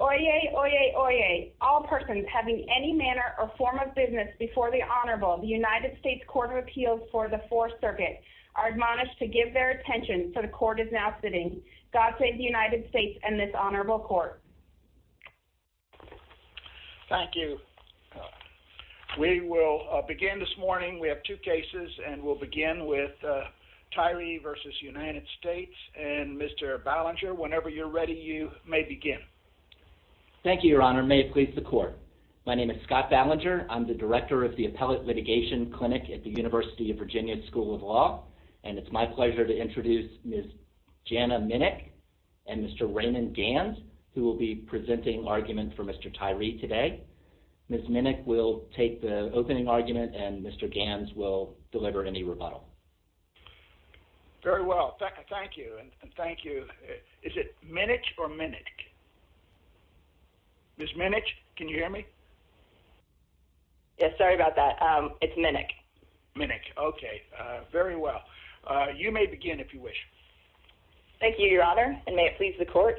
Oyez, oyez, oyez. All persons having any manner or form of business before the Honorable of the United States Court of Appeals for the Fourth Circuit are admonished to give their attention so the Court is now sitting. God save the United States and this Honorable Court. Thank you. We will begin this morning. We have two cases and we'll begin with Tyree v. United States and Mr. Ballinger, whenever you're ready, you may begin. Thank you, Your Honor. May it please the Court. My name is Scott Ballinger. I'm the director of the Appellate Litigation Clinic at the University of Virginia School of Law and it's my pleasure to introduce Ms. Jana Minnick and Mr. Raymond Ganz who will be presenting argument for Mr. Tyree today. Ms. Minnick will take the opening argument and Mr. Ganz will deliver any rebuttal. Very well. Thank you and thank you. Is it Minnick or Minnick? Ms. Minnick, can you hear me? Yes, sorry about that. It's Minnick. Minnick, okay. Very well. You may begin if you wish. Thank you, Your Honor and may it please the Court.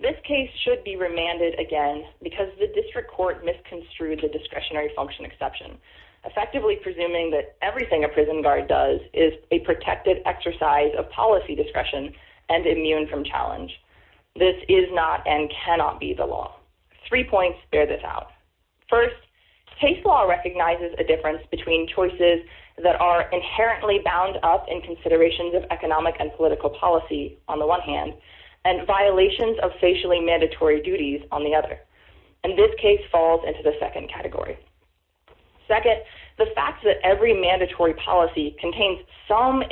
This case should be remanded again because the district court misconstrued the discretionary function exception, effectively presuming that everything a prison guard does is a protected exercise of policy discretion and immune from challenge. This is not and cannot be the law. Three points bear this out. First, case law recognizes a difference between choices that are inherently bound up in considerations of economic and political policy on the one hand and violations of facially mandatory duties on the other. And this case falls into the second category. Second, the fact that every mandatory policy contains some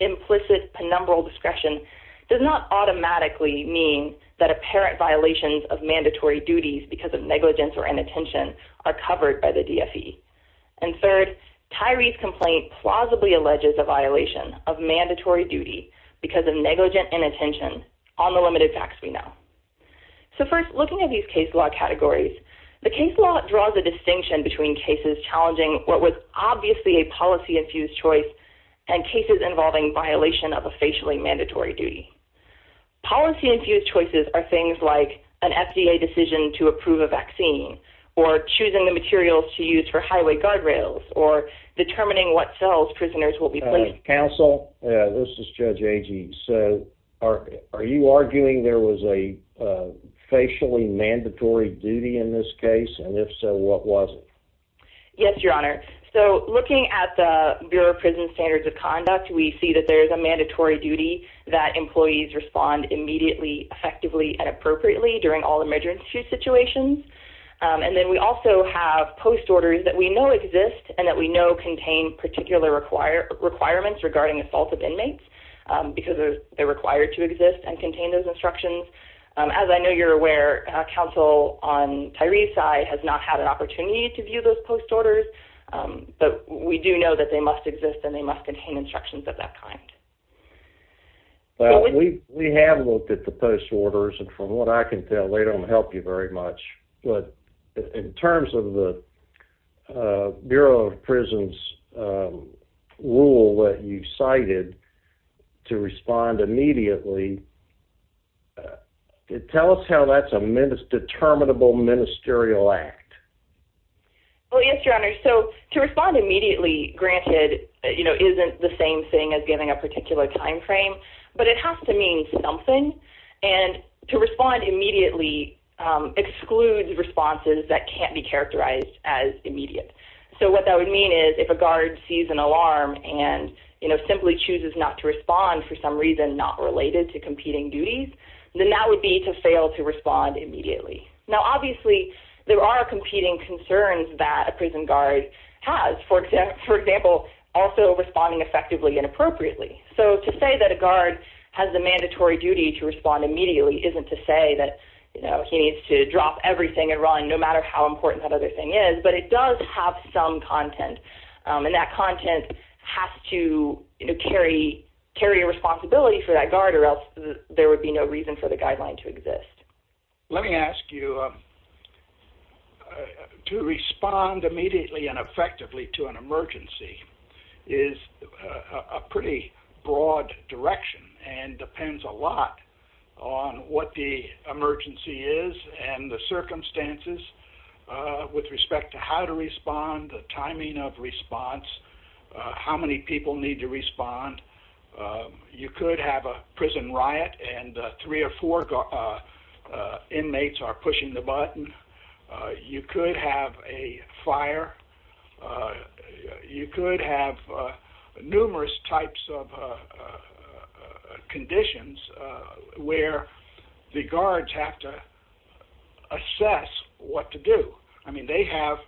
implicit penumbral discretion does not automatically mean that apparent violations of mandatory duties because of negligence or inattention are covered by the DFE. And third, Tyree's complaint plausibly alleges a violation of mandatory duty because of negligent inattention on the limited facts we know. So first, looking at these case law categories, the case law draws a distinction between cases challenging what was obviously a policy-infused choice and cases involving violation of a facially mandatory duty. Policy-infused choices are things like an FDA decision to approve a vaccine or choosing the materials to use for highway guardrails or determining what cells were used. So, Tyree, what is a facially mandatory duty in this case? And if so, what was it? Yes, your honor. So, looking at the Bureau of Prison Standards of Conduct, we see that there's a mandatory duty that employees respond immediately, effectively, and appropriately during all emergency situations. And then we also have post-orders that we know exist and that we know contain particular requirements regarding assault of inmates because they're required to exist and contain those instructions. As I know you're aware, counsel on Tyree's side has not had an opportunity to view those post-orders, but we do know that they must exist and they must contain instructions of that kind. Well, we have looked at the post-orders, and from what I can tell, they don't help you very much. But in terms of the Bureau of Prisons rule that you cited, to respond immediately, tell us how that's a determinable ministerial act. Well, yes, your honor. So, to respond immediately, granted, isn't the same thing as giving a warrant, but it includes responses that can't be characterized as immediate. So, what that would mean is if a guard sees an alarm and simply chooses not to respond for some reason not related to competing duties, then that would be to fail to respond immediately. Now, obviously, there are competing concerns that a prison guard has. For example, also responding effectively and appropriately. So, to say that a guard has the mandatory duty to respond immediately isn't to say that, you know, he needs to drop everything and run no matter how important that other thing is, but it does have some content. And that content has to carry a responsibility for that guard or else there would be no reason for the guideline to exist. Let me ask you, to respond immediately and effectively to an emergency is a pretty broad direction and depends a lot on what the emergency is and the circumstances with respect to how to respond, the timing of response, how many people need to respond. You could have a prison riot and three or four inmates are pushing the button. You could have a fire. You could have numerous types of conditions where the guards have to assess what to do. I mean, they have,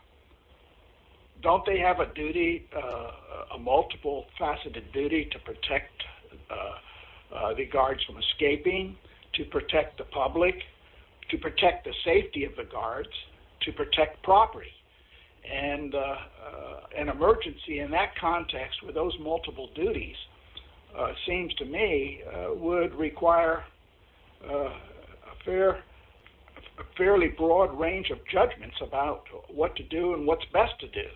don't they have a duty, a multiple faceted duty to protect the guards from escaping, to protect the public, to protect the safety of the guards, to protect property. And an emergency in that context with those multiple duties seems to me would require a fairly broad range of judgments about what to do and what's best to do.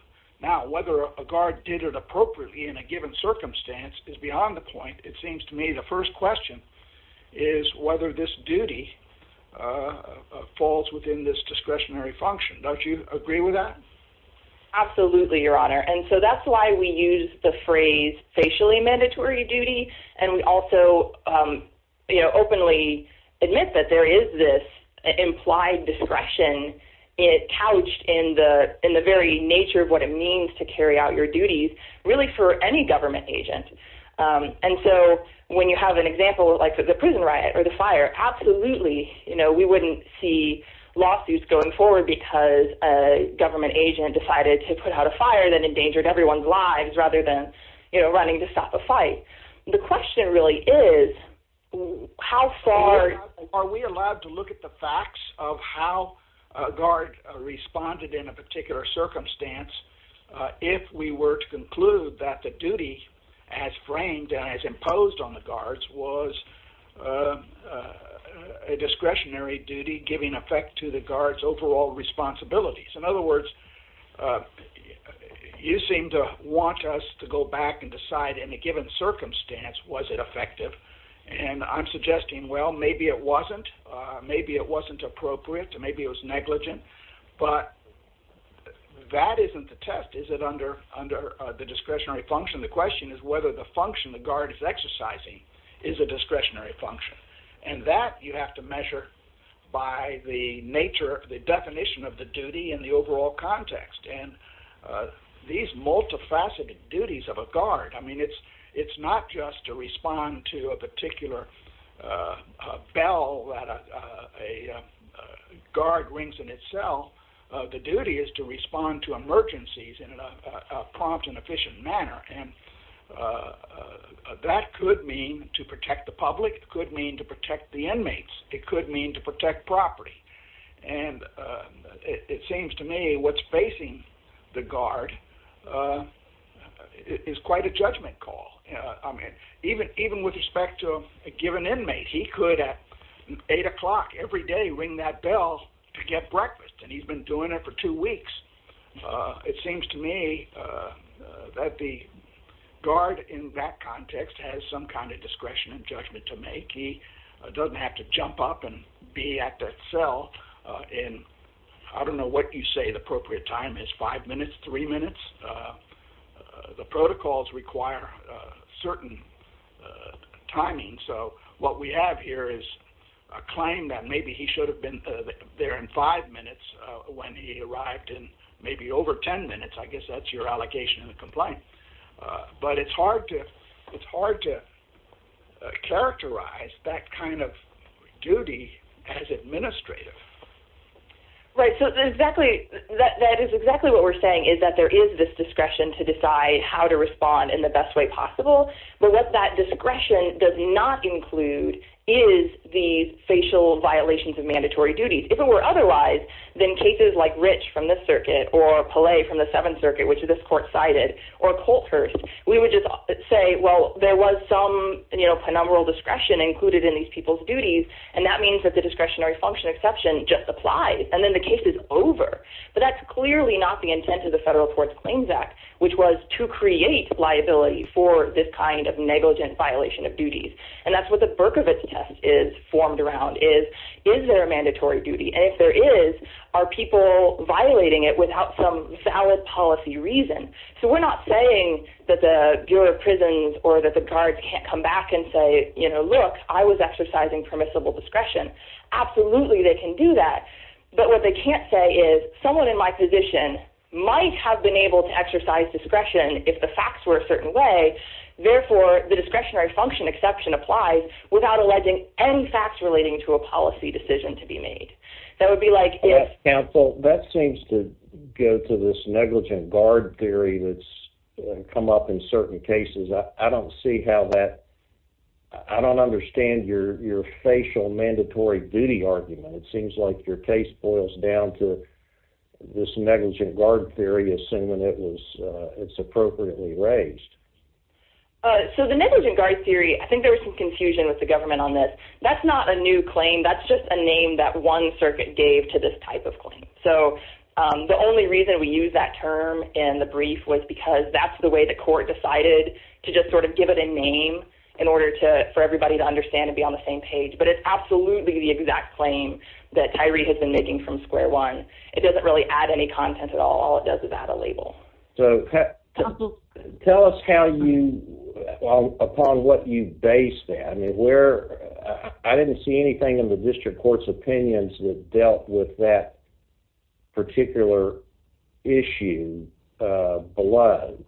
Now, whether a guard did it appropriately in a given circumstance is beyond the point. It seems to me the first question is whether this duty falls within this discretionary function. Don't you agree with that? Absolutely, Your Honor. And so that's why we use the phrase facially mandatory duty. And we also, you know, openly admit that there is this implied discretion, it couched in the in the very nature of what it means to carry out your duties, really for any government agent. And so when you have an example, like the prison riot or the fire, absolutely, you know, we wouldn't see lawsuits going forward, because a government agent decided to put out a fire that endangered everyone's lives rather than, you know, running to stop a fight. The question really is, how far are we allowed to look at the facts of how a guard responded in a particular circumstance, if we were to conclude that the duty as framed and as imposed on the guards was a discretionary duty giving effect to the guards overall responsibilities. In other words, you seem to want us to go back and decide in a given circumstance, was it effective? And I'm suggesting, well, maybe it wasn't, maybe it wasn't appropriate, maybe it was negligent. But that isn't the test. Is it under the discretionary function? The question is whether the function the guard is exercising is a discretionary function. And that you have to measure by the nature of the definition of the duty in the overall context. And these multifaceted duties of a guard, I mean, it's not just to respond to a particular bell that a guard rings in itself. The duty is to respond to emergencies in a prompt and efficient manner. And that could mean to protect the public, it could mean to protect the inmates, it could mean to protect property. And it seems to me what's facing the guard is quite a judgment call. I mean, even even with respect to a given inmate, he could at eight o'clock every day ring that bell to get breakfast, and he's been doing it for two weeks. It seems to me that the guard in that context has some kind of discretion and judgment to make he doesn't have to jump up and be at that cell. And I don't know what you say the appropriate time is five minutes, three minutes. The protocols require certain timing. So what we have here is a claim that maybe he should have been there in five minutes, when he arrived in maybe over 10 minutes, I guess that's your allocation in the complaint. But it's hard to, it's hard to characterize that kind of duty as administrative. Right. So exactly, that is exactly what we're saying is that there is this discretion to decide how to respond in the best way possible. But what that discretion does not include is the facial violations of mandatory duties. If it were otherwise, then cases like rich from the circuit or polite from the Seventh Circuit, which is this court cited, or Colthurst, we would just say, well, there was some, you know, penumbral discretion included in these people's duties. And that means that the discretionary function exception just applies, and then the case is over. But that's clearly not the intent of the Federal Courts Claims Act, which was to create liability for this kind of negligent violation of duties. And that's what the Berkovitz test is formed around is, is there a mandatory duty? And if there is, are people violating it without some valid policy reason? So we're not saying that the juror of prisons or that the guards can't come back and say, you know, look, I was exercising permissible discretion. Absolutely, they can do that. But what they can't say is someone in my position might have been able to exercise discretion if the facts were a certain way. Therefore, the discretionary function exception applies without alleging any facts relating to a policy decision to be made. That would be like if counsel that seems to go to this negligent guard theory that's come up in certain cases, I don't see how that I don't understand your your facial mandatory duty argument. It seems like your case boils down to this negligent guard theory as soon when it was it's appropriately raised. So the negligent guard theory, I think there was some confusion with the government on this. That's not a new claim. That's just a name that one circuit gave to this type of claim. So the only reason we use that term in the brief was because that's the way the court decided to just sort of give it a understand and be on the same page. But it's absolutely the exact claim that Tyree has been making from square one. It doesn't really add any content at all. All it does is add a label. So tell us how you upon what you based and where I didn't see anything in the district court's opinions that dealt with that particular issue below.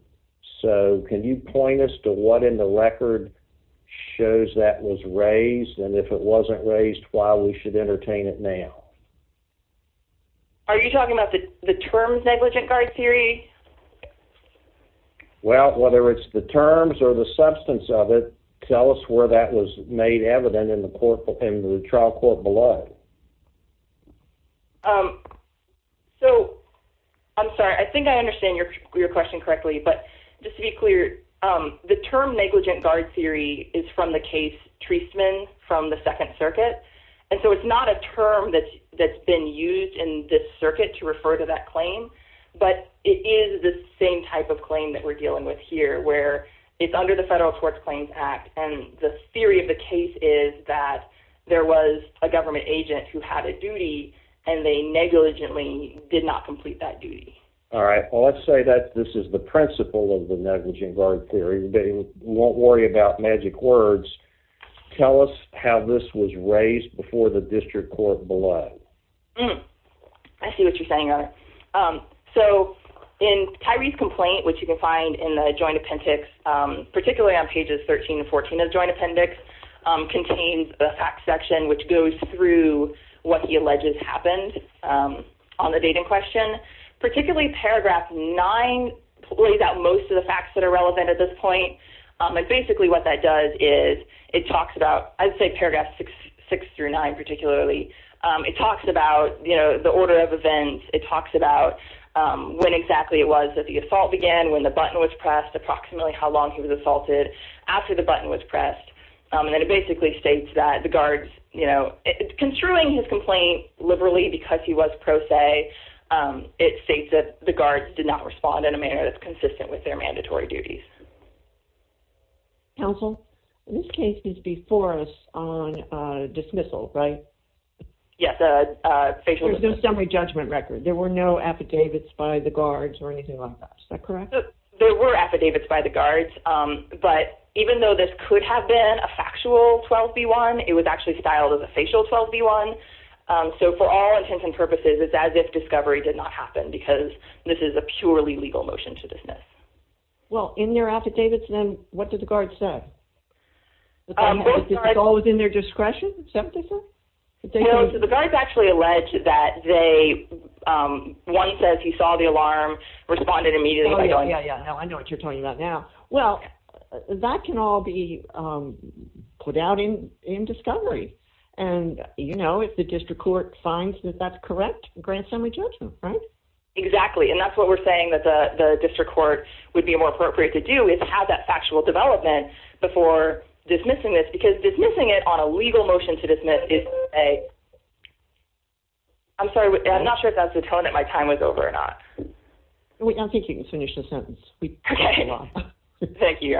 So can you point us to what in the record shows that was raised? And if it wasn't raised, why we should entertain it now? Are you talking about the term negligent guard theory? Well, whether it's the terms or the substance of it, tell us where that was made evident in the court and the trial court below. So I'm sorry, I think I understand your question correctly. But just to be clear, the term negligent guard theory is from the case Treisman from the Second Circuit. And so it's not a term that's been used in this circuit to refer to that claim. But it is the same type of claim that we're dealing with here where it's under the Federal Courts Claims Act. And the theory of the case is that there was a government agent who had a duty and they negligently did not complete that duty. All right. Well, let's say that this is the principle of the negligent guard theory. We won't worry about magic words. Tell us how this was raised before the district court below. I see what you're saying. So in Tyree's complaint, which you can find in the Joint Appendix, particularly on pages 13 and 14 of the Joint Appendix, contains a fact section which goes through what he said. And particularly paragraph 9 lays out most of the facts that are relevant at this point. And basically what that does is it talks about, I'd say paragraph 6 through 9 particularly, it talks about, you know, the order of events. It talks about when exactly it was that the assault began, when the button was pressed, approximately how long he was assaulted after the button was pressed. And then it basically states that the guards, you know, construing his complaint liberally because he was pro se, it states that the guards did not respond in a manner that's consistent with their mandatory duties. Counsel, this case is before us on dismissal, right? Yes. There's no summary judgment record. There were no affidavits by the guards or anything like that. Is that correct? There were affidavits by the guards. But even though this could have been a factual 12b1, it was actually styled as a facial 12b1. So for all intents and purposes, it's as if discovery did not happen because this is a purely legal motion to dismiss. Well, in their affidavits, then what did the guards say? Was it all within their discretion? No, so the guards actually alleged that they, one says he saw the alarm, responded immediately by going, Yeah, yeah, yeah. No, I know what you're talking about now. Well, that can all be put out in discovery. And, you know, if the district court finds that that's correct, grant summary judgment, right? Exactly. And that's what we're saying that the district court would be more appropriate to do is have that factual development before dismissing this because dismissing it on a legal motion to dismiss is a I'm sorry, I'm not sure if that's the tone that my time was over or not. We don't think you can finish the sentence. Thank you.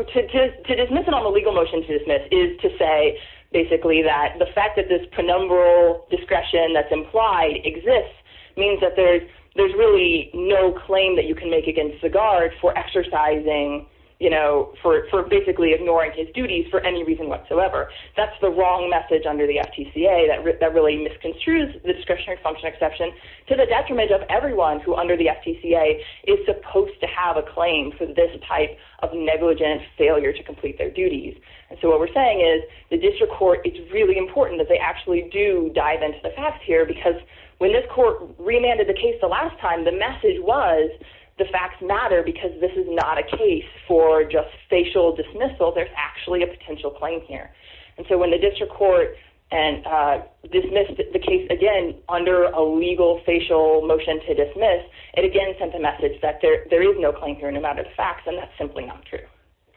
To dismiss it on the legal motion to dismiss is to say, basically, that the fact that this penumbral discretion that's implied exists means that there's really no claim that you can make against the guard for exercising, you know, for basically ignoring his duties for any reason whatsoever. That's the wrong message under the FTCA that really misconstrues the discretionary function exception to the detriment of everyone who under the FTCA is supposed to have a claim for this type of negligent failure to complete their duties. And so what we're saying is the district court, it's really important that they actually do dive into the facts here, because when this court remanded the case the last time, the message was the facts matter, because this is not a case for just facial dismissal. There's actually a potential claim here. And so when the district court and dismissed the case again under a legal facial motion to dismiss it again sent a message that there is no claim here no matter the facts. And that's simply not true.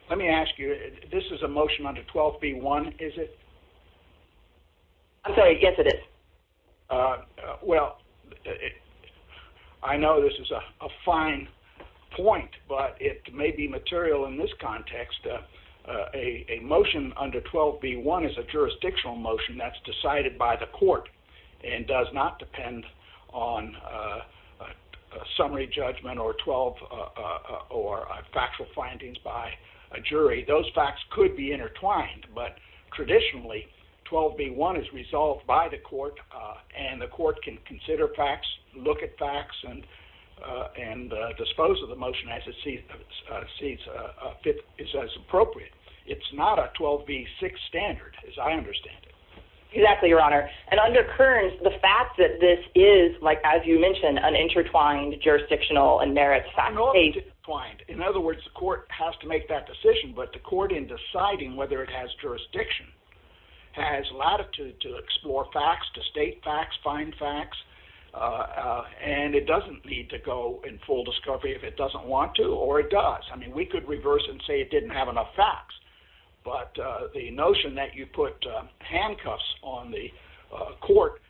Let me ask you, this is a motion under 12B1, is it? I'm sorry, yes, it is. Well, I know this is a fine point, but it may be material in this context. A motion under 12B1 is a jurisdictional motion that's decided by the court and does not depend on a summary judgment or 12 or factual findings by a jury. Those facts could be intertwined, but traditionally 12B1 is resolved by the court and the court can consider facts, look at facts and and dispose of the motion as it sees fit is as appropriate. It's not a 12B6 standard, as I understand it. Exactly, Your Honor. And under Kearns, the fact that this is like, as you mentioned, an intertwined jurisdictional and merit. In other words, the court has to make that decision. But the court in deciding whether it has jurisdiction has latitude to explore facts, to state facts, find facts. And it doesn't need to go in full discovery if it doesn't want to or it does. I mean, we could reverse and say it didn't have enough facts. But the notion that you put handcuffs on the court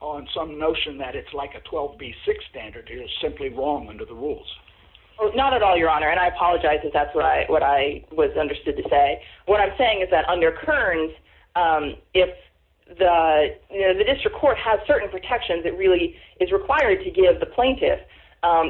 on some notion that it's like a 12B6 standard is simply wrong under the rules. It's not at all, Your Honor, and I apologize if that's what I was understood to say. What I'm saying is that under Kearns, if the district court has certain protections, it really is required to give the plaintiff.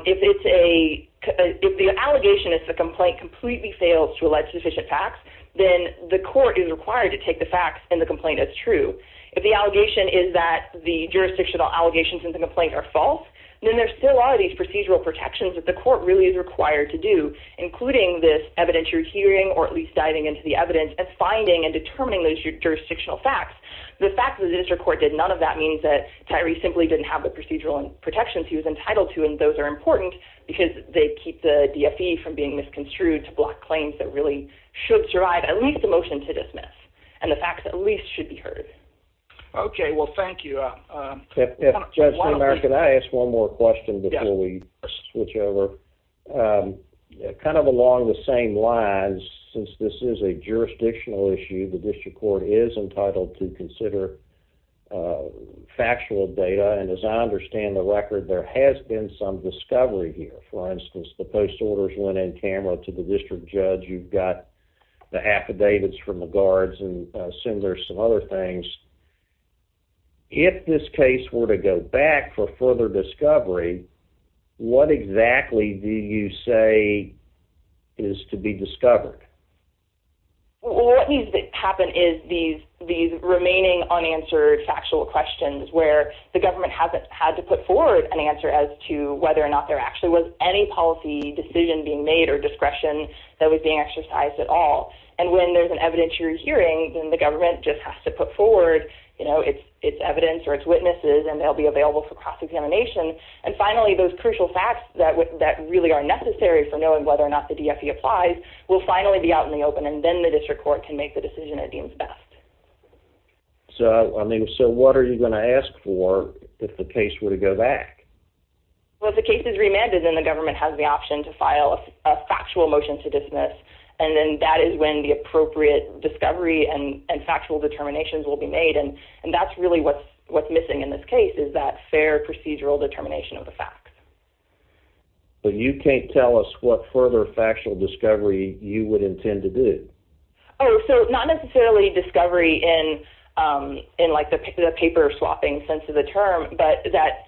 If it's a if the allegation is the complaint completely fails to elect sufficient facts, then the court is required to take the facts in the complaint as true. If the allegation is that the jurisdictional allegations in the complaint are false, then there still are these procedural protections that the court really is required to do, including this evidentiary hearing or at least diving into the evidence and finding and determining those jurisdictional facts. The fact that the district court did none of that means that Tyree simply didn't have the procedural protections he was entitled to. And those are important because they keep the DFE from being misconstrued to block claims that really should drive at least a motion to dismiss and the facts at least should be heard. OK, well, thank you. Judge American, I ask one more question before we switch over. Kind of along the same lines, since this is a jurisdictional issue, the district court is entitled to consider factual data. And as I understand the record, there has been some discovery here. For instance, the post orders went in camera to the district judge. You've got the affidavits from the guards and some there's some other things. If this case were to go back for further discovery, what exactly do you say is to be discovered? What needs to happen is these remaining unanswered factual questions where the government hasn't had to put forward an answer as to whether or not there actually was any policy decision being made or discretion that was being exercised at all. And when there's an evidence you're hearing in the government just has to put forward its evidence or its witnesses and they'll be available for cross examination. And finally, those crucial facts that that really are necessary for knowing whether or not the DFE applies will finally be out in the open. And then the district court can make the decision it deems best. So I mean, so what are you going to ask for if the case were to go back? Well, if the case is remanded, then the government has the option to file a factual motion to dismiss. And then that is when the appropriate discovery and factual determinations will be made. And that's really what's what's missing in this case is that fair procedural determination of the facts. But you can't tell us what further factual discovery you would intend to do. Oh, so not necessarily discovery in in like the paper swapping sense of the term, but that,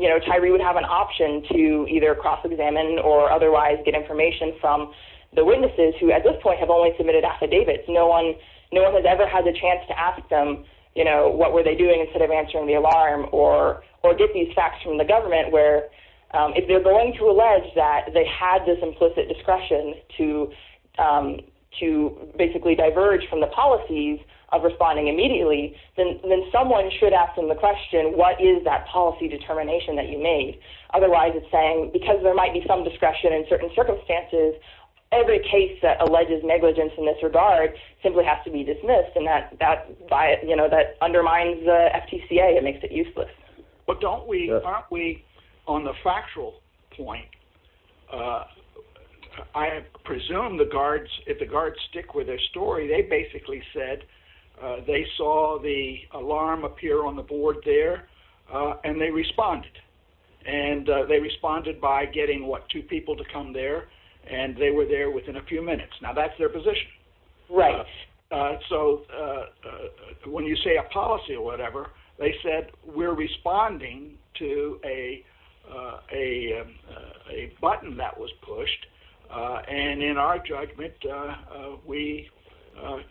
you know, an option to either cross examine or otherwise get information from the witnesses who at this point have only submitted affidavits. No one, no one has ever had the chance to ask them, you know, what were they doing instead of answering the alarm or or get these facts from the government where if they're going to allege that they had this implicit discretion to to basically diverge from the policies of responding immediately, then someone should ask them the question, what is that policy determination that you made? Otherwise, it's saying because there might be some discretion in certain circumstances, every case that alleges negligence in this regard simply has to be dismissed. And that that by it, you know, that undermines the FTCA. It makes it useless. But don't we are we on the factual point? I presume the guards, if the guards stick with their story, they basically said they saw the alarm appear on the board there and they responded. And they responded by getting what two people to come there and they were there within a few minutes. Now, that's their position. Right. So when you say a policy or whatever, they said we're responding to a a a button that was pushed. And in our judgment, we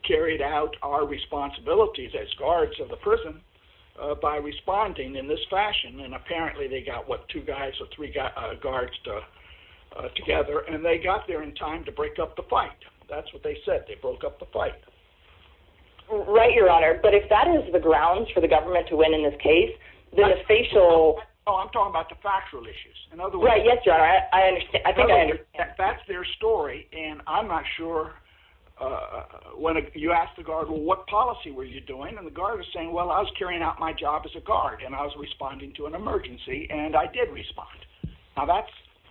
carried out our responsibilities as guards of the prison by responding in this fashion. And apparently they got what, two guys or three guards together. And they got there in time to break up the fight. That's what they said. They broke up the fight. Right, Your Honor. But if that is the grounds for the government to win in this case, then the facial I'm talking about the factual issues. Right. Yes, Your Honor. I think that's their story. And I'm not sure when you ask the guard, what policy were you doing? And the guard is saying, well, I was carrying out my job as a guard and I was responding to an emergency. And I did respond. Now, that's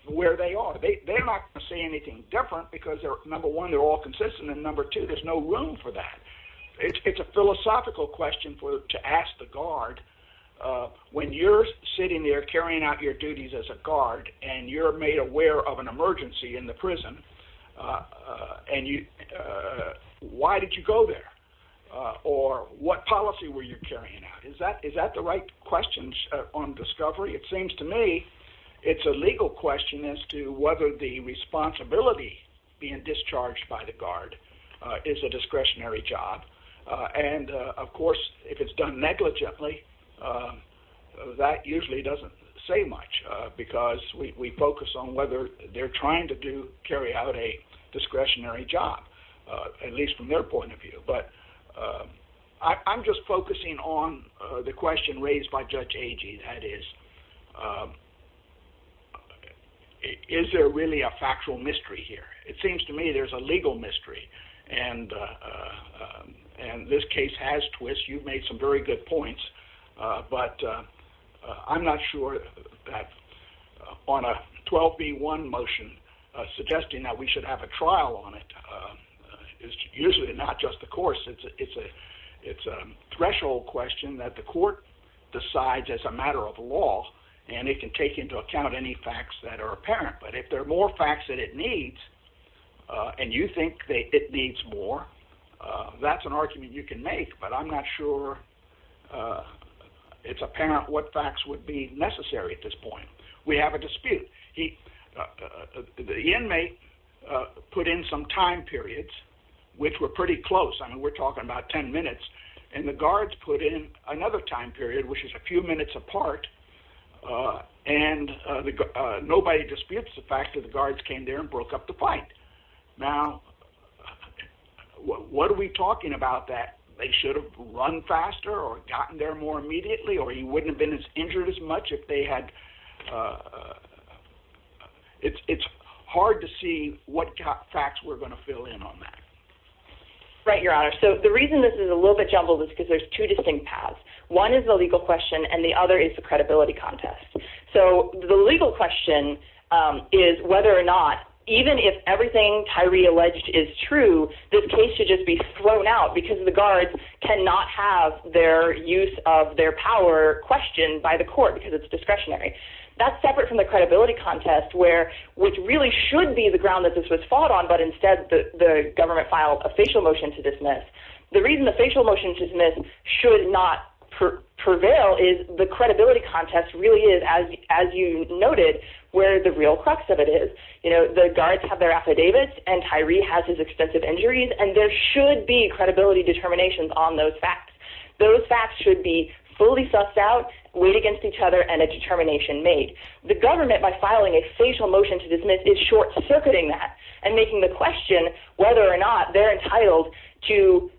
where they are. They're not going to say anything different because they're number one, they're all consistent. And number two, there's no room for that. It's a philosophical question to ask the guard when you're sitting there carrying out your duties as a guard and you're made aware of an emergency in the prison. And why did you go there or what policy were you carrying out? Is that is that the right questions on discovery? It seems to me it's a legal question as to whether the responsibility being discharged by the guard is a discretionary job. And of course, if it's done negligently, that usually doesn't say much because we focus on whether they're trying to do carry out a discretionary job, at least from their point of view. But I'm just focusing on the question raised by Judge Agee. That is. Is there really a factual mystery here? It seems to me there's a legal mystery and and this case has twists. You've made some very good points, but I'm not sure that on a 12B1 motion suggesting that we should have a trial on it is usually not just the course. It's a it's a threshold question that the court decides as a matter of law and it can take into account any facts that are apparent. But if there are more facts that it needs and you think that it needs more, that's an argument you can make. But I'm not sure it's apparent what facts would be necessary at this point. We have a dispute. The inmate put in some time periods which were pretty close. I mean, we're talking about 10 minutes and the guards put in another time period, which is a few minutes apart. And nobody disputes the fact that the guards came there and broke up the fight. Now, what are we talking about that they should have run faster or gotten there more immediately or he wouldn't have been as injured as much if they had? It's hard to see what facts we're going to fill in on that. Right, Your Honor, so the reason this is a little bit jumbled is because there's two distinct paths. One is the legal question and the other is the credibility contest. So the legal question is whether or not even if everything Tyree alleged is true, this case should just be thrown out because the guards cannot have their use of their power questioned by the court because it's discretionary. That's separate from the credibility contest where which really should be the ground that this was fought on. But instead, the government filed a facial motion to dismiss. The reason the facial motion to dismiss should not prevail is the credibility contest really is, as you noted, where the real crux of it is. You know, the guards have their affidavits and Tyree has his extensive injuries and there should be credibility determinations on those facts. Those facts should be fully sussed out, weighed against each other and a determination made. The government, by filing a facial motion to dismiss, is short circuiting that and making the question whether or not they're entitled to,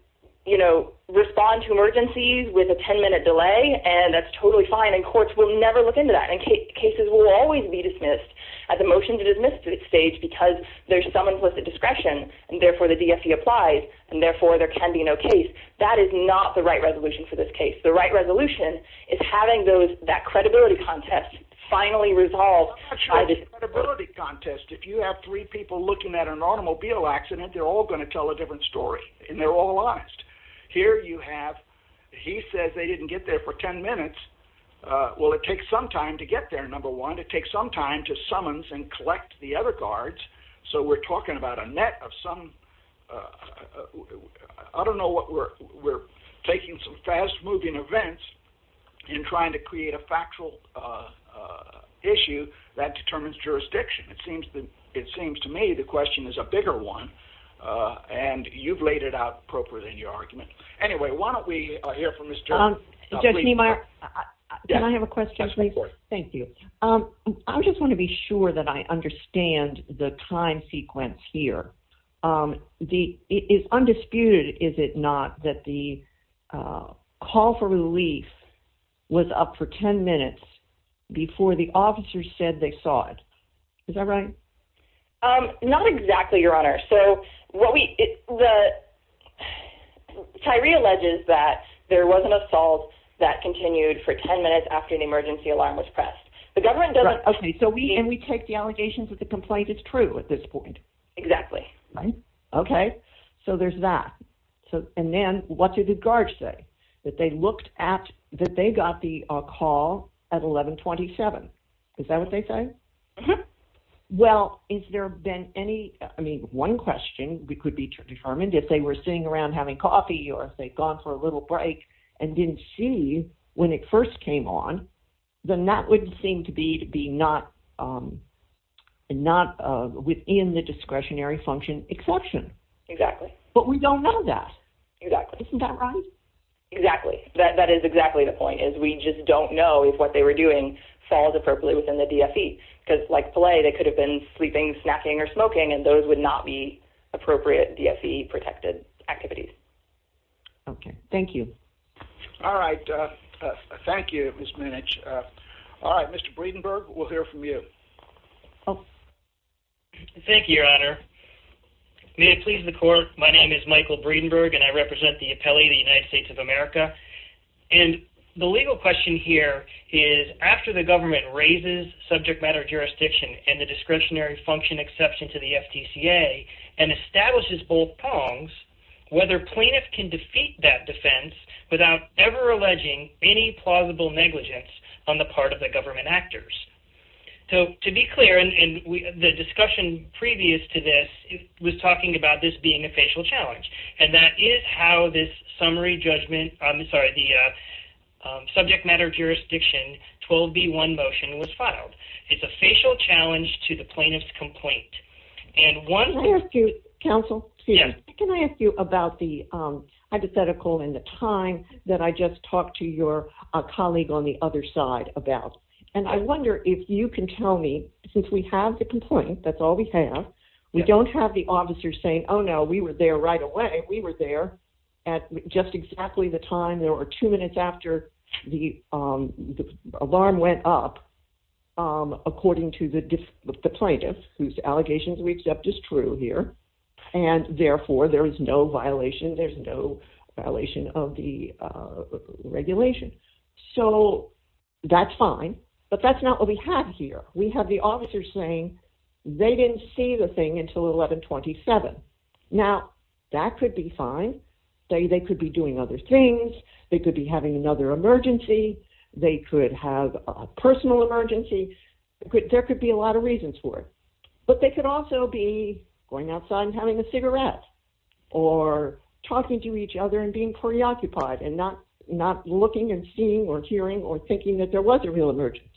you know, respond to emergencies with a 10 minute delay and that's totally fine and courts will never look into that. And cases will always be dismissed at the motion to dismiss stage because there's some implicit discretion and therefore the DSE applies and therefore there can be no case. That is not the right resolution for this case. The right resolution is having those that credibility contest finally resolved by the credibility contest. If you have three people looking at an automobile accident, they're all going to tell a different story and they're all honest. Here you have he says they didn't get there for 10 minutes. Well, it takes some time to get there. Number one, it takes some time to summons and collect the other guards. So we're talking about a net of some. I don't know what we're taking some fast moving events and trying to create a factual issue that determines jurisdiction. It seems that it seems to me the question is a bigger one and you've laid it out appropriately in your argument. Anyway, why don't we hear from Mr. Just my I have a question before. Thank you. I just want to be sure that I understand the time sequence here. The is undisputed. Is it not that the call for relief was up for 10 minutes before the officers said they saw it? Is that right? Not exactly. Your honor. So what we the Tyree alleges that there was an assault that continued for 10 minutes after an emergency alarm was pressed. The government doesn't. Okay. So we and we take the allegations that the complaint is true at this point. Exactly. Right. Okay. So there's that. So and then what did the guards say that they looked at that? They got the call at eleven twenty seven. Is that what they say? Well, is there been any. I mean, one question we could be determined if they were sitting around having coffee or if they'd gone for a little break and didn't see when it first came on, then that would seem to be to be not not within the discretionary function exception. Exactly. But we don't know that. Exactly. Isn't that right? Exactly. That is exactly the point is we just don't know if what they were doing falls appropriately within the DSE. Because like play, they could have been sleeping, snacking or smoking, and those would not be appropriate. DSE protected activities. Okay. Thank you. All right. Thank you. Miss Minaj. All right. Mr. Breedenberg, we'll hear from you. Thank you, your honor. May it please the court. My name is Michael Breedenberg and I represent the appellee, the United States of America. And the legal question here is after the government raises subject matter jurisdiction and the discretionary function exception to the FTCA and establishes both prongs, whether plaintiff can defeat that defense without ever alleging any plausible negligence on the part of the government actors. So to be clear, and the discussion previous to this was talking about this being a facial challenge. And that is how this summary judgment, I'm sorry, the subject matter jurisdiction 12B1 motion was filed. It's a facial challenge to the plaintiff's complaint. And one- Can I ask you, counsel, can I ask you about the hypothetical and the time that I just talked to your colleague on the other side about. And I wonder if you can tell me, since we have the complaint, that's all we have. We don't have the officers saying, oh, no, we were there right away. We were there at just exactly the time. There were two minutes after the alarm went up, according to the plaintiff, whose allegations we accept is true here. And therefore, there is no violation. There's no violation of the regulation. So that's fine. But that's not what we have here. We have the officers saying they didn't see the thing until 1127. Now, that could be fine. They could be doing other things. They could be having another emergency. They could have a personal emergency. There could be a lot of reasons for it. But they could also be going outside and having a cigarette or talking to each other and being preoccupied and not looking and seeing or hearing or thinking that there was a real emergency.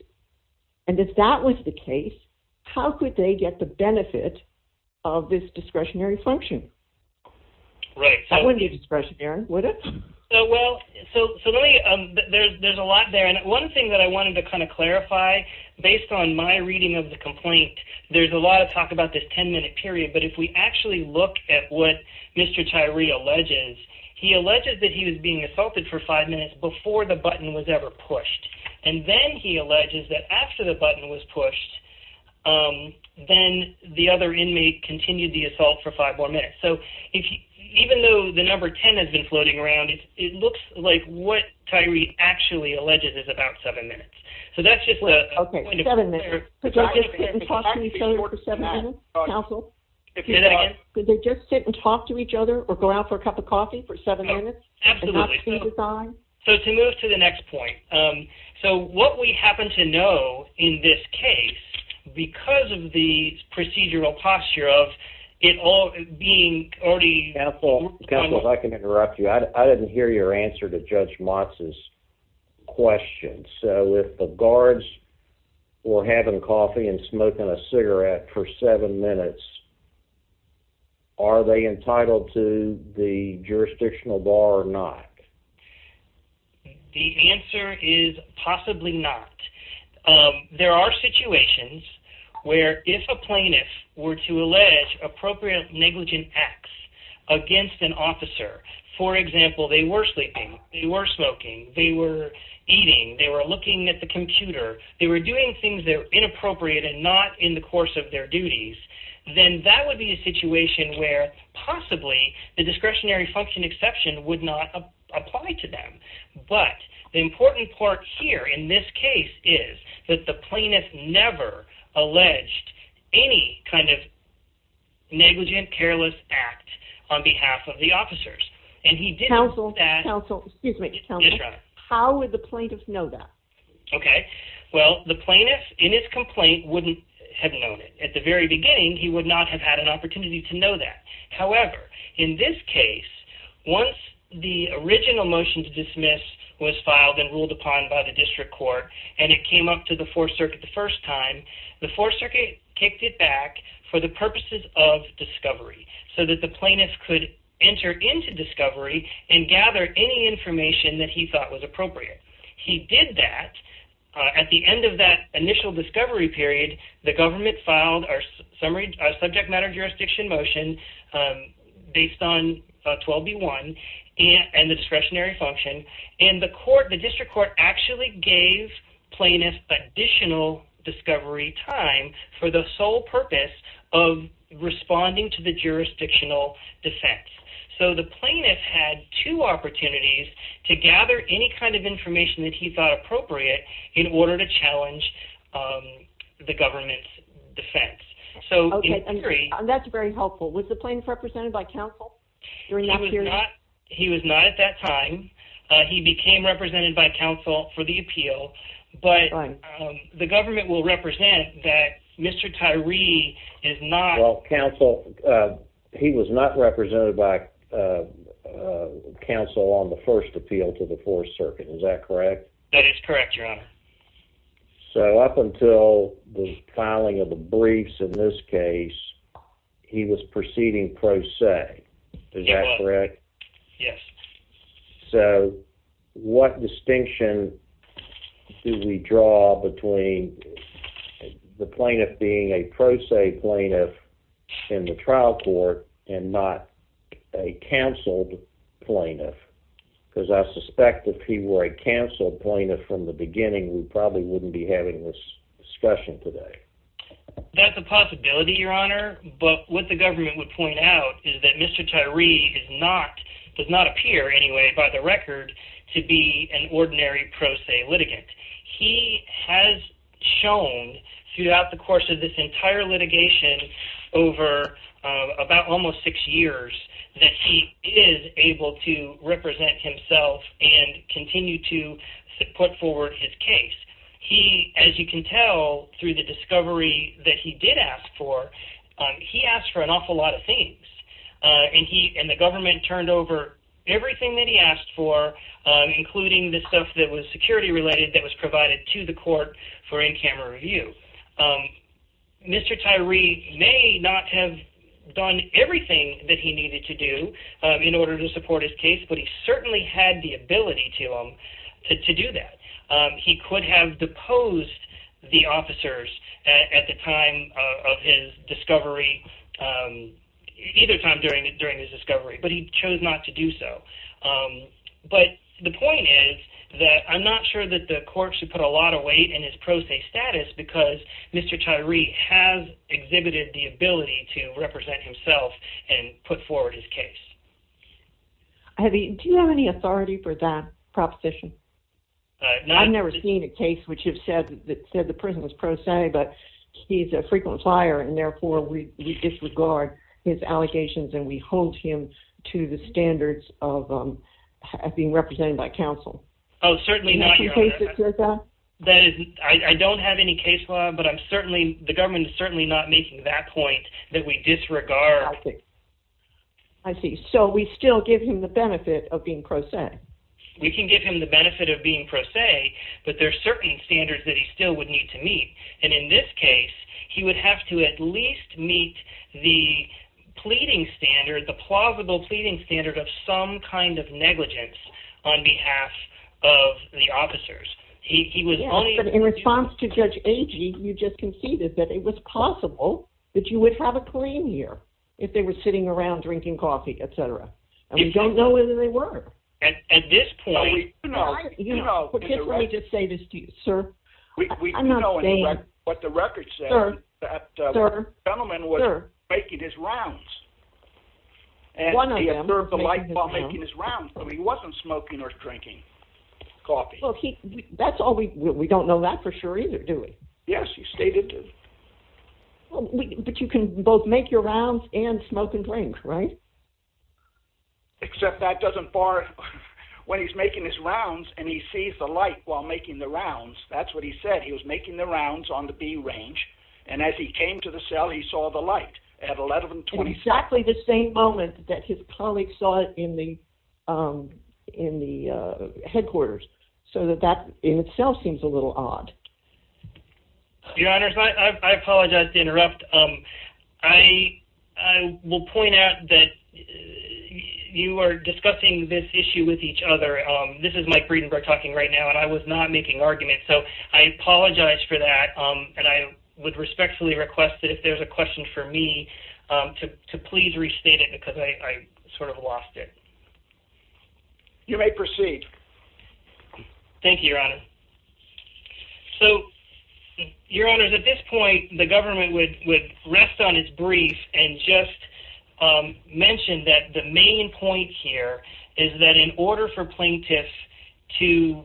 And if that was the case, how could they get the benefit of this discretionary function? That wouldn't be discretionary, would it? Well, so there's a lot there. And one thing that I wanted to kind of clarify, based on my reading of the complaint, there's a lot of talk about this 10-minute period. But if we actually look at what Mr. Tyree alleges, he alleges that he was being assaulted for five minutes before the button was ever pushed. And then he alleges that after the button was pushed, then the other inmate continued the assault for five more minutes. So even though the number 10 has been floating around, it looks like what Tyree actually alleges is about seven minutes. So that's just a point of clearance. Could they just sit and talk to each other for seven minutes, counsel? Say that again? Could they just sit and talk to each other or go out for a cup of coffee for seven minutes and not see the sign? So to move to the next point, so what we happen to know in this case, because of the procedural posture of it all being already— Counsel, if I can interrupt you, I didn't hear your answer to Judge Motz's question. So if the guards were having coffee and smoking a cigarette for seven minutes, are they entitled to the jurisdictional bar or not? The answer is possibly not. There are situations where if a plaintiff were to allege appropriate negligent acts against an officer— for example, they were sleeping, they were smoking, they were eating, they were looking at the computer, they were doing things that were inappropriate and not in the course of their duties— then that would be a situation where possibly the discretionary function exception would not apply to them. But the important part here in this case is that the plaintiff never alleged any kind of negligent, careless act on behalf of the officers. And he did know that— Counsel, counsel, excuse me, counsel, how would the plaintiff know that? Okay, well, the plaintiff in his complaint wouldn't have known it. At the very beginning, he would not have had an opportunity to know that. However, in this case, once the original motion to dismiss was filed and ruled upon by the district court and it came up to the Fourth Circuit the first time, the Fourth Circuit kicked it back for the purposes of discovery so that the plaintiff could enter into discovery and gather any information that he thought was appropriate. He did that. At the end of that initial discovery period, the government filed a subject matter jurisdiction motion based on 12B1 and the discretionary function. And the district court actually gave plaintiffs additional discovery time for the sole purpose of responding to the jurisdictional defense. So the plaintiff had two opportunities to gather any kind of information that he thought appropriate in order to challenge the government's defense. So in theory— Okay, that's very helpful. Was the plaintiff represented by counsel during that period? He was not at that time. He became represented by counsel for the appeal. But the government will represent that Mr. Tyree is not— Well, counsel—he was not represented by counsel on the first appeal to the Fourth Circuit. Is that correct? That is correct, Your Honor. So up until the filing of the briefs in this case, he was proceeding pro se. Is that correct? Yes. So what distinction do we draw between the plaintiff being a pro se plaintiff in the trial court and not a counseled plaintiff? Because I suspect if he were a counseled plaintiff from the beginning, we probably wouldn't be having this discussion today. That's a possibility, Your Honor. But what the government would point out is that Mr. Tyree does not appear, anyway, by the record to be an ordinary pro se litigant. He has shown throughout the course of this entire litigation over about almost six years that he is able to represent himself and continue to put forward his case. He, as you can tell through the discovery that he did ask for, he asked for an awful lot of things. And the government turned over everything that he asked for, including the stuff that was security-related that was provided to the court for in-camera review. Mr. Tyree may not have done everything that he needed to do in order to support his case, but he certainly had the ability to do that. He could have deposed the officers at the time of his discovery, either time during his discovery, but he chose not to do so. But the point is that I'm not sure that the court should put a lot of weight in his pro se status because Mr. Tyree has exhibited the ability to represent himself and put forward his case. Do you have any authority for that proposition? I've never seen a case which has said that the person was pro se, but he's a frequent flyer, and therefore we disregard his allegations and we hold him to the standards of being represented by counsel. Oh, certainly not, Your Honor. Do you have any cases like that? I don't have any case law, but the government is certainly not making that point that we disregard... I see. So we still give him the benefit of being pro se. We can give him the benefit of being pro se, but there are certain standards that he still would need to meet, and in this case, he would have to at least meet the pleading standard, the plausible pleading standard of some kind of negligence on behalf of the officers. In response to Judge Agee, you just conceded that it was possible that you would have a claim here if they were sitting around drinking coffee, etc., and we don't know whether they were. At this point... Well, we do know... Let me just say this to you, sir. I'm not a fan. We do know what the record says, that the gentleman was making his rounds. One of them. And he observed the light while making his rounds, but he wasn't smoking or drinking coffee. That's all we... We don't know that for sure either, do we? Yes, you stated... But you can both make your rounds and smoke and drink, right? Except that doesn't bar... When he's making his rounds and he sees the light while making the rounds, that's what he said. He was making the rounds on the B range, and as he came to the cell, he saw the light at 1127. Exactly the same moment that his colleague saw it in the headquarters, so that that in itself seems a little odd. Your Honors, I apologize to interrupt. I will point out that you are discussing this issue with each other. This is Mike Breedenburg talking right now, and I was not making arguments, so I apologize for that, and I would respectfully request that if there's a question for me, to please restate it because I sort of lost it. You may proceed. Thank you, Your Honor. So, Your Honors, at this point, the government would rest on its brief and just mention that the main point here is that in order for plaintiffs to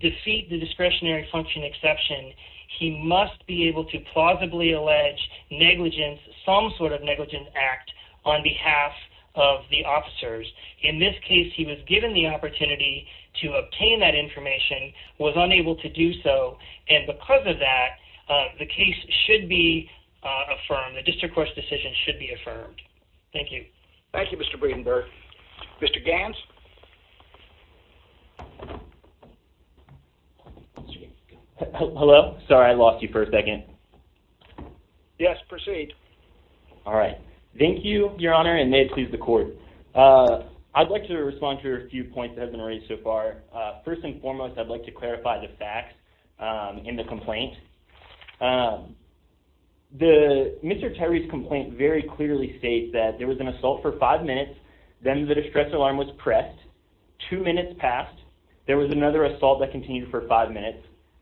defeat the discretionary function exception, he must be able to plausibly allege negligence, some sort of negligence act on behalf of the officers. In this case, he was given the opportunity to obtain that information and was unable to do so, and because of that, the case should be affirmed. The district court's decision should be affirmed. Thank you. Thank you, Mr. Breedenburg. Mr. Gans? Hello? Sorry, I lost you for a second. Yes, proceed. All right. Thank you, Your Honor, and may it please the court. I'd like to respond to a few points that have been raised so far. First and foremost, I'd like to clarify the facts in the complaint. Mr. Tyree's complaint very clearly states that there was an assault for five minutes, then the distress alarm was pressed, two minutes passed, there was another assault that continued for five minutes,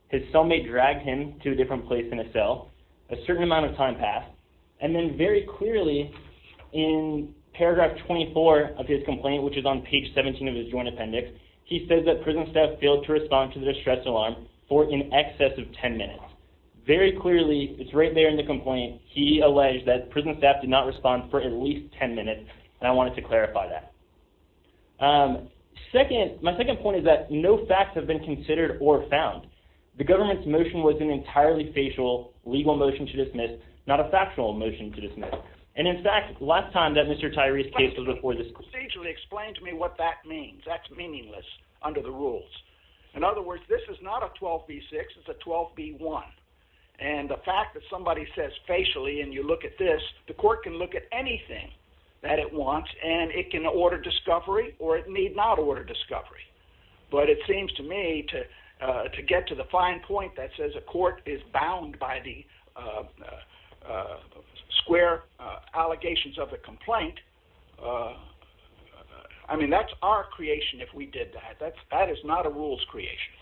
his cellmate dragged him to a different place in a cell, a certain amount of time passed, and then very clearly in paragraph 24 of his complaint, which is on page 17 of his joint appendix, he says that prison staff failed to respond to the distress alarm for in excess of ten minutes. Very clearly, it's right there in the complaint, he alleged that prison staff did not respond for at least ten minutes, and I wanted to clarify that. Second, my second point is that no facts have been considered or found. The government's motion was an entirely facial, legal motion to dismiss, not a factual motion to dismiss. And in fact, last time that Mr. Tyree's case was before this court... He procedurally explained to me what that means. That's meaningless under the rules. In other words, this is not a 12b-6, it's a 12b-1. And the fact that somebody says facially, and you look at this, the court can look at anything that it wants, and it can order discovery, or it need not order discovery. But it seems to me, to get to the fine point that says a court is bound by the square allegations of a complaint, I mean, that's our creation if we did that. That is not a rule's creation.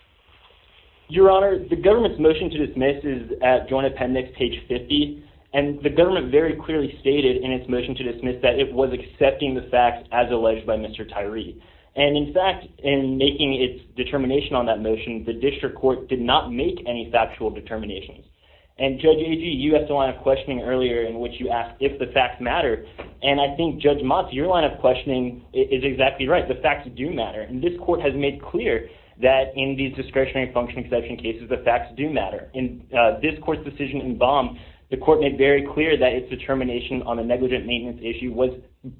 Your Honor, the government's motion to dismiss is at Joint Appendix, page 50, and the government very clearly stated in its motion to dismiss that it was accepting the facts as alleged by Mr. Tyree. And in fact, in making its determination on that motion, the district court did not make any factual determinations. And Judge Agee, you asked a line of questioning earlier in which you asked if the facts matter, and I think Judge Motz, your line of questioning is exactly right. The facts do matter. And this court has made clear that in these discretionary function exception cases the facts do matter. In this court's decision in Baum, the court made very clear that its determination on the negligent maintenance issue was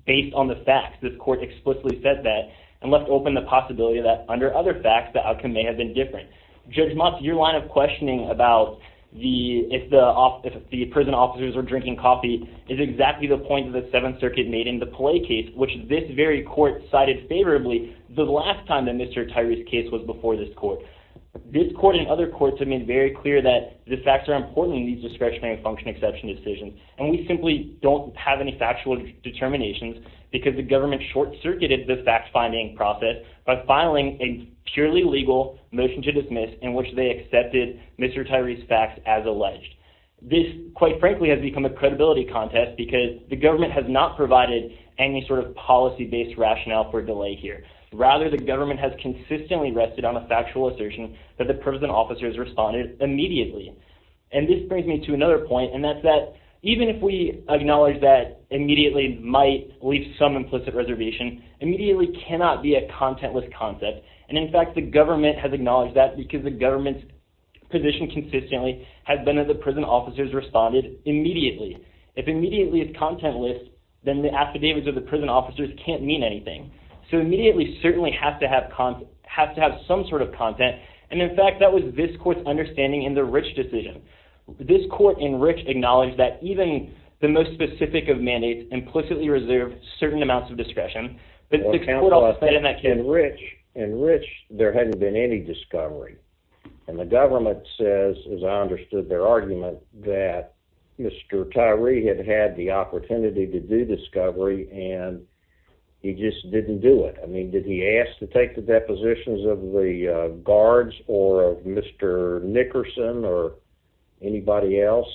based on the facts. This court explicitly said that and left open the possibility that under other facts, the outcome may have been different. Judge Motz, your line of questioning about if the prison officers were drinking coffee is exactly the point that the Seventh Circuit made in the Pelay case, which this very court cited favorably the last time that Mr. Tyree's case was before this court. This court and other courts have made very clear that the facts are important in these discretionary function exception decisions. And we simply don't have any factual determinations because the government short-circuited the fact-finding process by filing a purely legal motion to dismiss in which they accepted Mr. Tyree's facts as alleged. This, quite frankly, has become a credibility contest because the government has not provided any sort of policy-based rationale for delay here. Rather, the government has consistently rested on a factual assertion that the prison officers responded immediately. And this brings me to another point, and that's that even if we acknowledge that immediately might leave some implicit reservation, immediately cannot be a contentless concept. And in fact, the government has acknowledged that because the government's position consistently has been that the prison officers responded immediately. If immediately is contentless, then the affidavits of the prison officers can't mean anything. So immediately certainly has to have some sort of content. And in fact, that was this court's understanding in the Rich decision. This court in Rich acknowledged that even the most specific of mandates implicitly was discretion. In Rich, there hadn't been any discovery. And the government says, as I understood their argument, that Mr. Tyree had had the opportunity to do discovery and he just didn't do it. I mean, did he ask to take the depositions of the guards or of Mr. Nickerson or anybody else?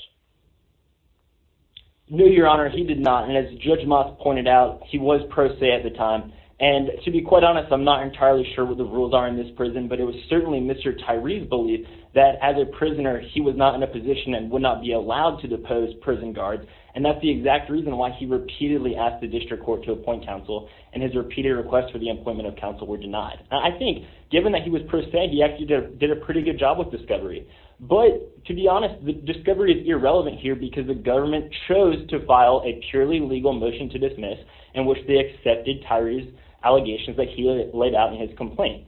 No, Your Honor, he did not. And as Judge Moss pointed out, he was pro se at the time. And to be quite honest, I'm not entirely sure what the rules are in this prison, but it was certainly Mr. Tyree's belief that as a prisoner, he was not in a position and would not be allowed to depose prison guards. And that's the exact reason why he repeatedly asked the district court to appoint counsel and his repeated requests for the appointment of counsel were denied. I think, given that he was pro se, he actually did a pretty good job with discovery. But, to be honest, discovery is irrelevant here because the government chose to file a purely legal motion to dismiss in which they accepted Tyree's allegations that he laid out in his complaint.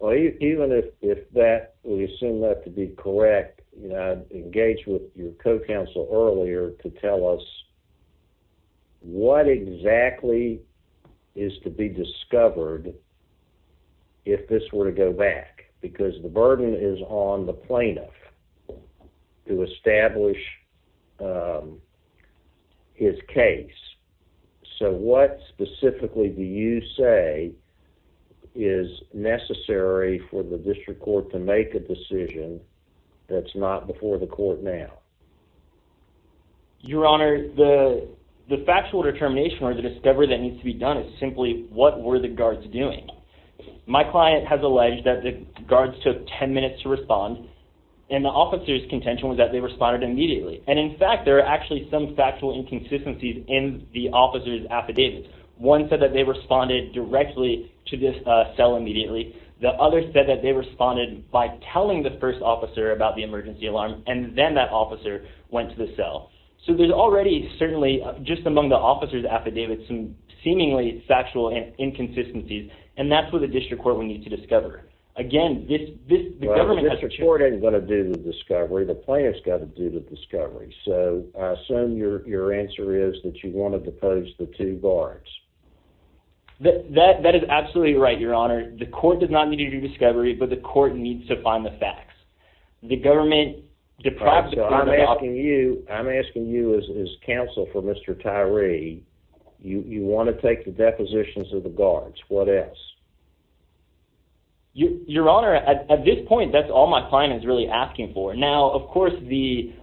Even if that, we assume that to be correct, engage with your co-counsel earlier to tell us what exactly is to be discovered if this were to go back because the burden is on the plaintiff to establish his case. So, what specifically do you say is necessary for the district court to make a decision that's not before the court now? Your Honor, the factual determination or the discovery that needs to be done is simply what were the guards doing? My client has alleged that the guards took 10 minutes to respond and the officer's contention was that they responded immediately. And, in fact, there are actually some factual inconsistencies in the officer's affidavits. One said that they responded directly to this cell immediately. The other said that they responded by telling the first officer about the emergency alarm and then that officer went to the cell. So, there's already, certainly, just among the officer's affidavits some seemingly factual inconsistencies and that's what the district court will need to discover. Again, this government has to... Well, the district court isn't going to do the discovery. The plaintiff's got to do the discovery. So, I assume your answer is that you want to depose the two guards. That is absolutely right, Your Honor. The court does not need to do discovery but the court needs to find the facts. The government deprived the plaintiff of... I'm asking you as counsel for Mr. Tyree, you want to take the depositions of the guards. What else? Your Honor, at this point, that's all my client is really asking for. Now, of course, the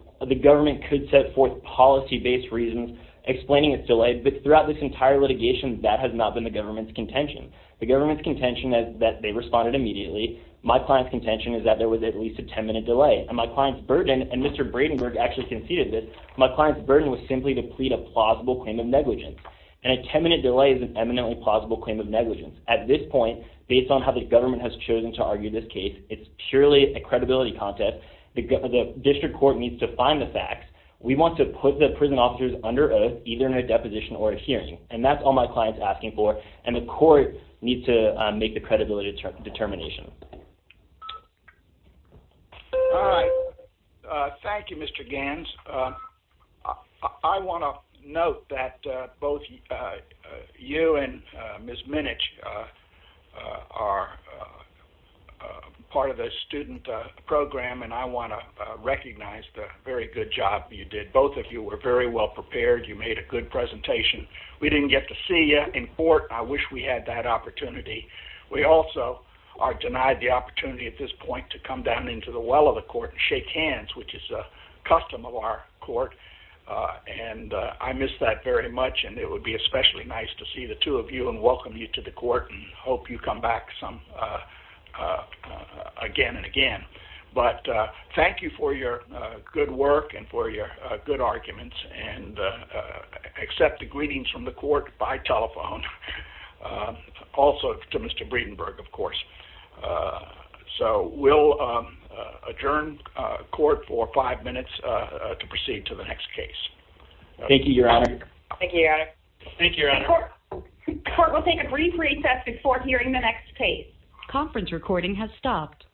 government could set forth policy-based reasons explaining its delay but throughout this entire litigation that has not been the government's contention. The government's contention is that they responded immediately. My client's contention is that there was at least a 10-minute delay and my client's burden, and Mr. Bradenburg actually conceded this, my client's burden was simply to plead a plausible claim of negligence and a 10-minute delay is an eminently plausible claim of negligence. At this point, based on how the government has chosen to argue this case, it's purely a credibility contest. The district court needs to find the facts. We want to put the prison officers under oath, either in a deposition or a hearing and that's all my client's asking for and the court needs to make the credibility determination. All right. Thank you, Mr. Gans. I want to note that both you and Ms. Minich are part of the student program and I want to recognize the very good job you did. Both of you were very well prepared. You made a good presentation. We didn't get to see you in court and I wish we had that opportunity. We also are denied the opportunity at this point to come down into the well of the court and shake hands, which is a custom of our court and I miss that very much and it would be especially nice to see the two of you and welcome you to the court and hope you come back again and again, but thank you for your good work and for your good arguments and accept the greetings from the court by telephone. Also, to Mr. So we'll adjourn court for five minutes to proceed to the next case. Thank you, Your Honor. Thank you, Your Honor. Court will take a brief recess before hearing the next case. Conference recording has stopped.